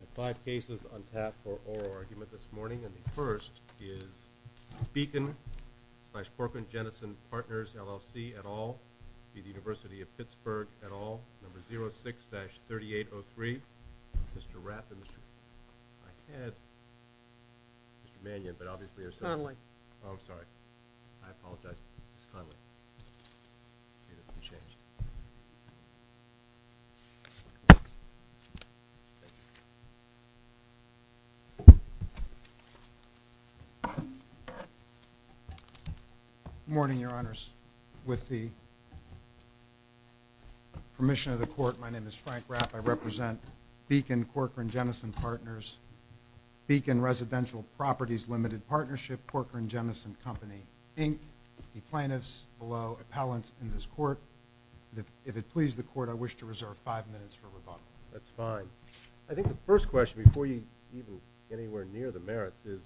I have five cases on tap for oral argument this morning, and the first is Beacon-Corcoran-Jenison Partners, LLC, et al., University of Pittsburgh, et al., number 06-3803. Mr. Rath and Mr. Manion, but obviously there's... Conley. Oh, I'm sorry. I apologize. It's Conley. Good morning, Your Honors. With the permission of the Court, my name is Frank Rath. I represent Beacon-Corcoran-Jenison Partners, Beacon Residential Properties Limited Partnership, Corcoran-Jenison Company, Inc. The plaintiffs below appellant in this Court. If it pleases the Court, I wish to reserve five minutes for rebuttal. That's fine. I think the first question, before you even get anywhere near the merits, is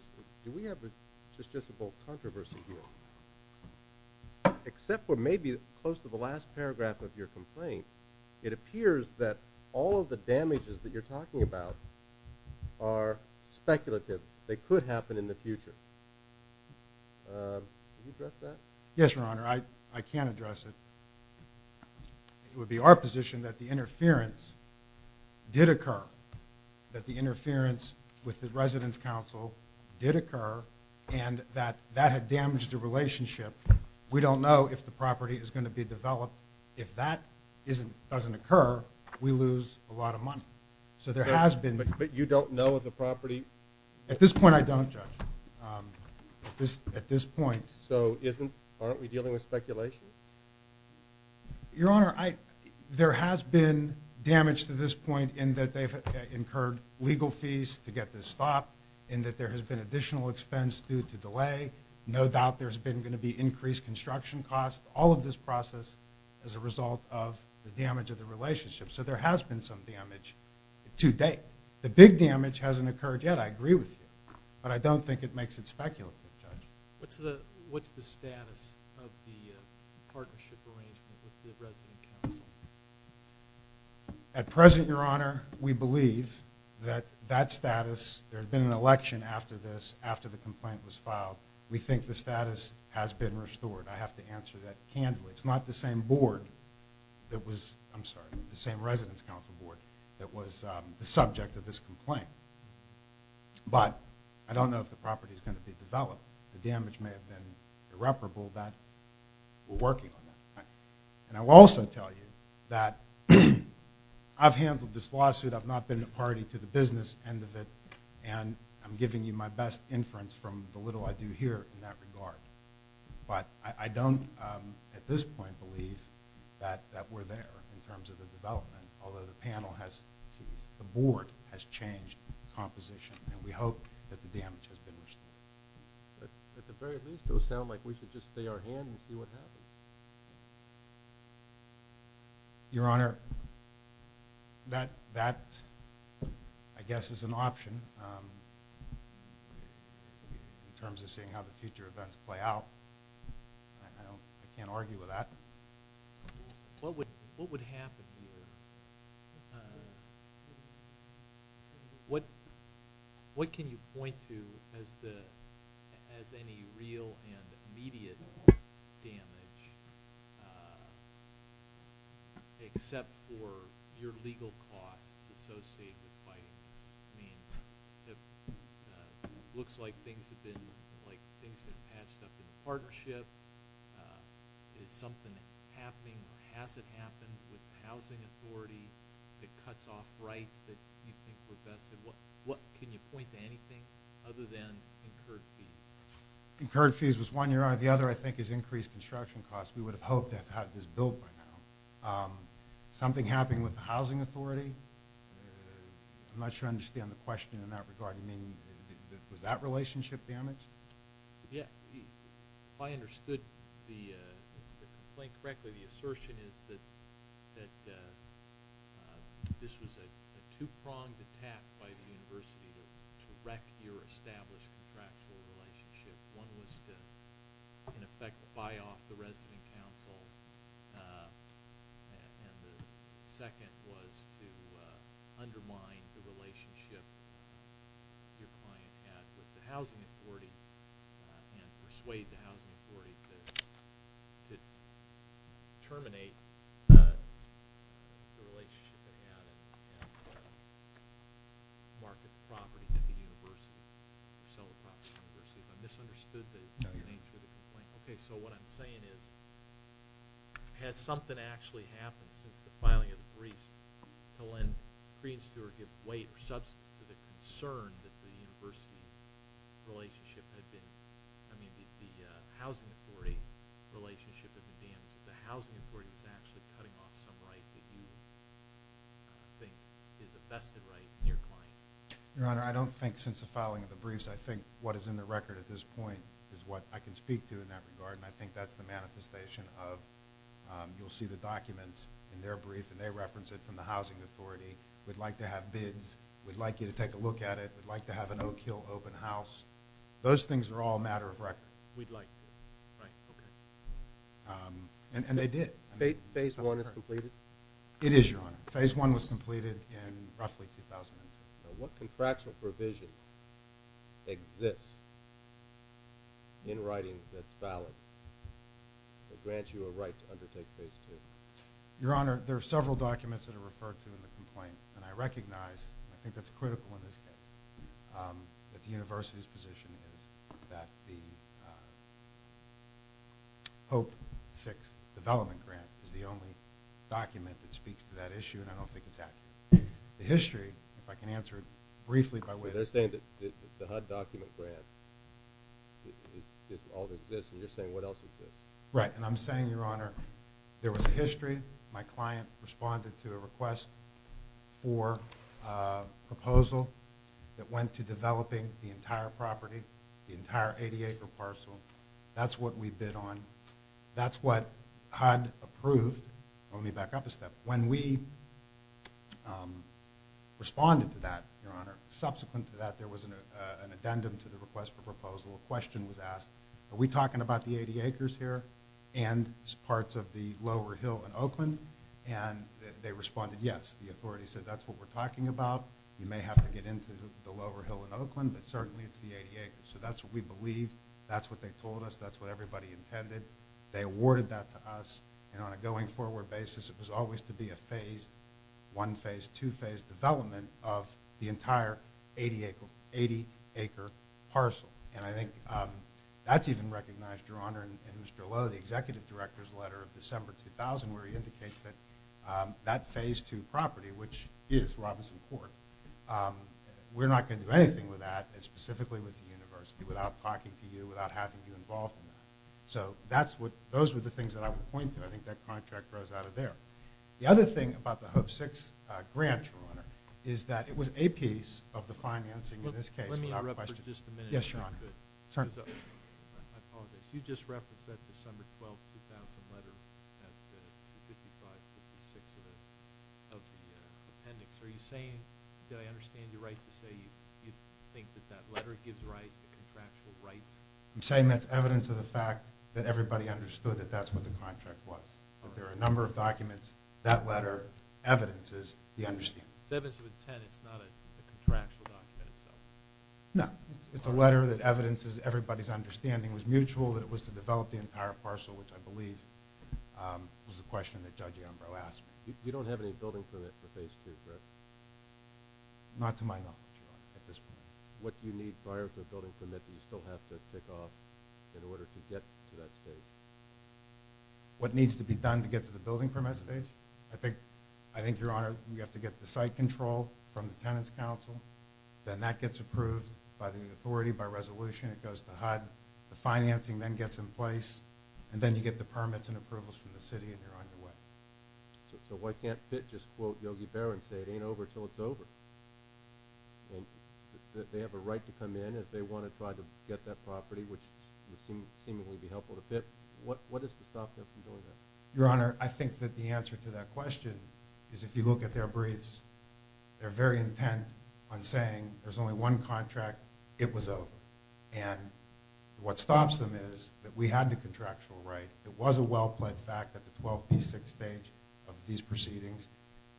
do we have a justiciable controversy here? Except for maybe close to the last paragraph of your complaint, it appears that all of the damages that you're talking about are speculative. They could happen in the future. Can you address that? Yes, Your Honor. I can address it. It would be our position that the interference did occur, that the interference with the Residence Council did occur, and that that had damaged the relationship. We don't know if the property is going to be developed. If that doesn't occur, we lose a lot of money. So there has been... But you don't know if the property... At this point I don't, Judge. At this point... So aren't we dealing with speculation? Your Honor, there has been damage to this point in that they've incurred legal fees to get this stopped, and that there has been additional expense due to delay. No doubt there's been going to be increased construction costs. All of this process is a result of the damage of the relationship. So there has been some damage to date. The big damage hasn't occurred yet, I agree with you. But I don't think it makes it speculative, Judge. What's the status of the partnership arrangement with the Residence Council? At present, Your Honor, we believe that that status... There's been an election after this, after the complaint was filed. We think the status has been restored. I have to answer that candidly. It's not the same board that was... I'm sorry, the same Residence Council board that was the subject of this complaint. But I don't know if the property is going to be developed. The damage may have been irreparable, but we're working on that. And I will also tell you that I've handled this lawsuit. I've not been a party to the business end of it, and I'm giving you my best inference from the little I do here in that regard. But I don't, at this point, believe that we're there in terms of the development, although the panel has... the board has changed composition, and we hope that the damage has been restored. At the very least, it will sound like we should just stay our hand and see what happens. Your Honor, that, I guess, is an option in terms of seeing how the future events play out. I can't argue with that. What would happen here? What can you point to as any real and immediate damage except for your legal costs associated with fighting this? It looks like things have been patched up in the partnership. Is something happening or has it happened with the housing authority that cuts off rights that you think were vested? Can you point to anything other than incurred fees? Incurred fees was one, Your Honor. The other, I think, is increased construction costs. We would have hoped to have had this built by now. Something happening with the housing authority? I'm not sure I understand the question in that regard. Was that relationship damaged? If I understood the complaint correctly, the assertion is that this was a two-pronged attack by the university to wreck your established contractual relationship. One was to, in effect, buy off the resident council, and the second was to undermine the relationship your client had with the housing authority and persuade the housing authority to terminate the relationship they had and market the property to the university, sell the property to the university. If I misunderstood the nature of the complaint. What I'm saying is, has something actually happened since the filing of the briefs to lend creeds to or give weight or substance to the concern that the university relationship had been, I mean, the housing authority relationship has been damaged? The housing authority is actually cutting off some right that you think is a vested right in your client? Your Honor, I don't think since the filing of the briefs. I think what is in the brief, you'll see the documents in their brief, and they reference it from the housing authority. We'd like to have bids. We'd like you to take a look at it. We'd like to have an Oak Hill open house. Those things are all a matter of record. We'd like to. Right. Okay. And they did. Phase one is completed? It is, Your Honor. Phase one was completed in roughly 2008. Now, what contractual provision exists in writing that's valid that grants you a right to undertake phase two? Your Honor, there are several documents that are referred to in the complaint, and I recognize, and I think that's critical in this case, that the university's position is that the HOPE VI development grant is the only document that speaks to that issue, and I don't think it's accurate. The history, if I can answer it briefly by way of... They're saying that the HUD document grant is all that exists, and you're saying what else exists? Right, and I'm saying, Your Honor, there was a history. My client responded to a request for a proposal that went to developing the entire property, the entire 80-acre parcel. That's what we bid on. That's what HUD approved. Let me back up a step. When we responded to that, Your Honor, subsequent to that, there was an addendum to the request for proposal. A question was asked, are we talking about the 80 acres here and parts of the lower hill in Oakland? And they responded, yes. The authority said, that's what we're talking about. You may have to get into the lower hill in Oakland, but certainly it's the 80 acres, and they sent that to us, and on a going-forward basis, it was always to be a phased, one-phase, two-phase development of the entire 80-acre parcel, and I think that's even recognized, Your Honor, in Mr. Lowe, the executive director's letter of December 2000, where he indicates that that phase two property, which is Robinson Court, we're not going to do anything with that, specifically with the university, without talking to you, without having you involved in that. So, those were the things that I would point to. I think that contract grows out of there. The other thing about the HOPE VI grant, Your Honor, is that it was a piece of the financing in this case. Yes, Your Honor. I apologize. You just referenced that December 12, 2000 letter. That's the 55-56 of the appendix. Are you saying, did I understand you right to say you think that that letter gives rise to contractual rights? I'm saying that's evidence of the fact that everybody understood that that's what the contract was. There are a number of documents that letter evidences the understanding. It's evidence of intent. It's not a contractual document itself. No. It's a letter that was a question that Judge Ambrose asked. Not to my knowledge, Your Honor. What needs to be done to get to the building permit stage? I think, Your Honor, you have to get the site control from the Tenants Council. Then that gets approved by the authority, by resolution. It goes to HUD. The financing then gets in place, and then you get the permits and approvals from the city, and you're on your way. So why can't FIT just quote Yogi Berra and say it ain't over until it's over? They have a right to come in if they want to try to get that property, which would seemingly be helpful to FIT. What is to stop them from doing that? Your Honor, I think that the answer to that question is if you look at their briefs, they're very intent on saying there's only one contract. It was over. What stops them is that we had the contractual right. It was a well-pledged fact at the 12P6 stage of these proceedings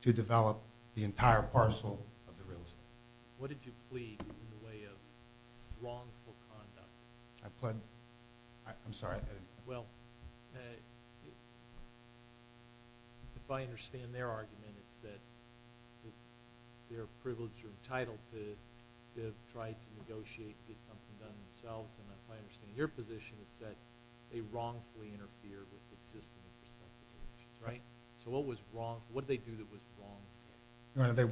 to develop the entire parcel of the real estate. What did you plead in the way of wrongful conduct? I'm sorry. Well, if I understand their argument, it's that they're privileged or entitled to try to negotiate and get something done themselves, and if I understand your position, it's that they wrongfully interfered with the system in the first place. What did they do that was wrong? Your Honor, they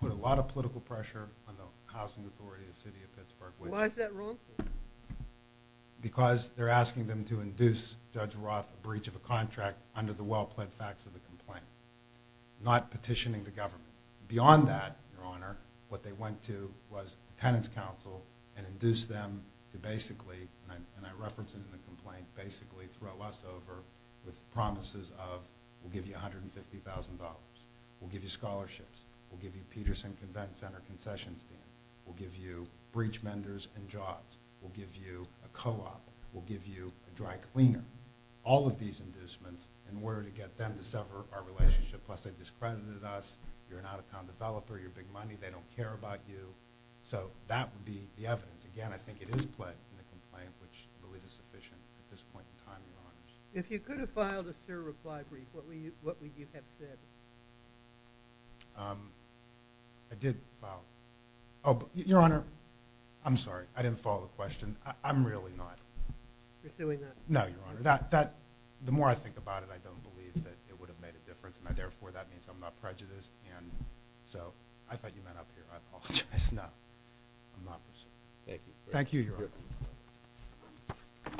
put a lot of political pressure on the Housing Authority of the City of Pittsburgh. Why is that wrongful? Because they're asking them to induce Judge Roth a breach of a contract under the well-pledged facts of the complaint, not petitioning the government. Beyond that, Your Honor, what they went to was the Tenants Council and induced them to basically, and I reference it in the complaint, basically throw us over with promises of we'll give you a corrections team, we'll give you breach menders and jobs, we'll give you a co-op, we'll give you a dry cleaner, all of these inducements in order to get them to sever our relationship, plus they discredited us, you're an out-of-town developer, you're big money, they don't care about you, so that would be the evidence. Again, I think it is pledged in the complaint, which I believe is sufficient at this point in time, Your Honor. If you could have filed a STIR reply brief, what would you have said? I did file... Your Honor, I'm sorry, I didn't follow the question. I'm really not... Pursuing that? No, Your Honor. The more I think about it, I don't believe that it would have made a difference and therefore that means I'm not prejudiced, and so I thought you meant up here. I apologize. No, I'm not pursuing. Thank you. Thank you, Your Honor. Thank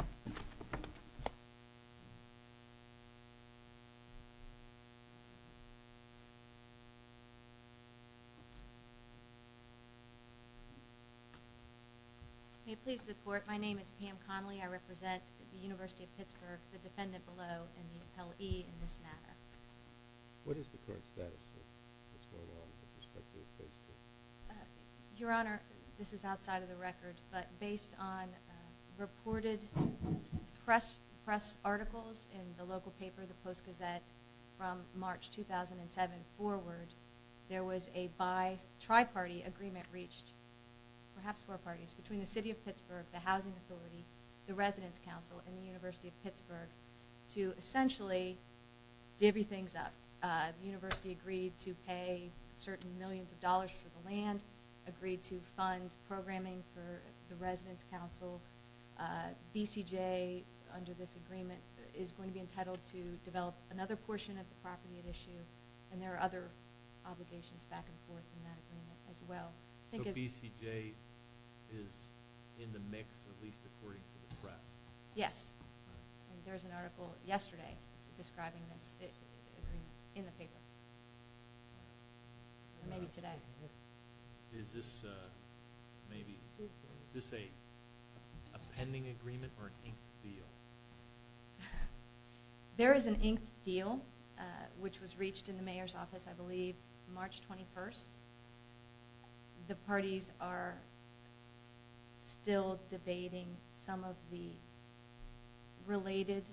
you. May it please the Court, my name is Pam Connolly, I represent the University of Pittsburgh, the defendant below, and the appellee in this matter. What is the current status of what's going on with respect to the case? Your Honor, this is outside of the record, but based on reported press articles in the local paper, the Post-Gazette, from March 2007 forward, there was a bi-tri-party agreement reached, perhaps four parties, between the City of Pittsburgh, the Housing Authority, the Residence Council, and the University of Pittsburgh to essentially divvy things up. The University agreed to pay certain millions of dollars for the land, agreed to fund programming for the Residence Council. BCJ, under this agreement, is going to be entitled to develop another portion of the property at issue, and there are other obligations back and forth in that agreement as well. So BCJ is in the mix, at least according to the press? Yes. There was an article yesterday describing this in the paper. Maybe today. Is this a pending agreement or an inked deal? There is an inked deal, which was reached in the Mayor's office, I believe, March 21st. The parties are still debating some of the related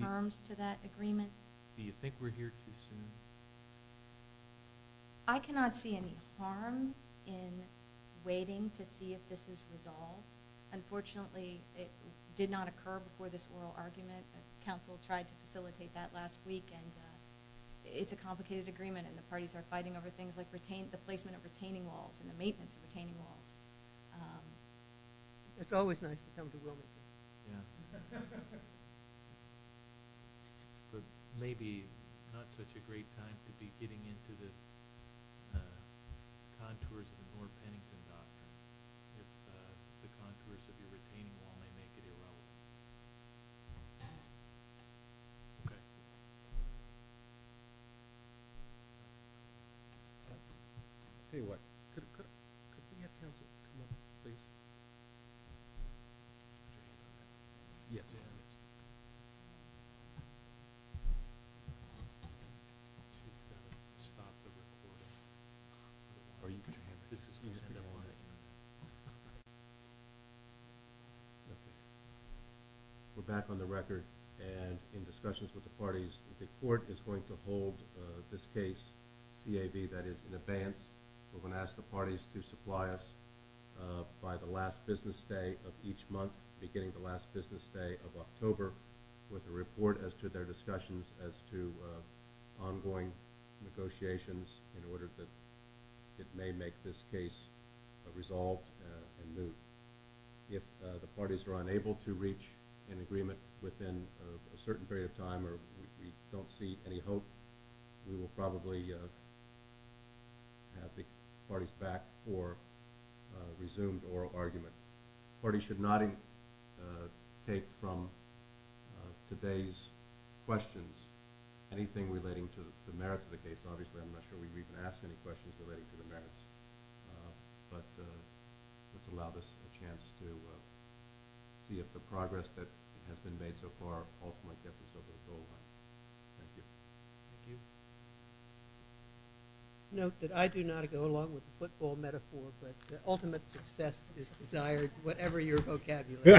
terms to that agreement. Do you think we're here too soon? I cannot see any harm in waiting to see if this is resolved. Unfortunately, it did not occur before this oral argument. Council tried to facilitate that last week, and it's a complicated agreement, and the parties are fighting over things like the placement of retaining walls and the maintenance of retaining walls. It's always nice to come to Wilmington. Maybe not such a great time to be getting into the contours of the North Pennington Dock if the contours of your retaining wall may make it irrelevant. Okay. We're back on the record, and in discussions with the parties, the court is going to hold this case CAB, that is, in advance. We're going to ask the parties to supply us by the last business day of each month, beginning the last business day of October, with a report as to their discussions as to ongoing negotiations in order that it may make this case resolved and moved. If the parties are unable to reach an agreement within a certain period of time or we don't see any hope, we will probably have the parties back for a resumed oral argument. The parties should not take from today's questions anything relating to the case, but let's allow this a chance to see if the progress that has been made so far ultimately gets us over the goal line. Thank you. Thank you. Note that I do not go along with the football metaphor, but ultimate success is desired, whatever your vocabulary. Thank you. Thank you.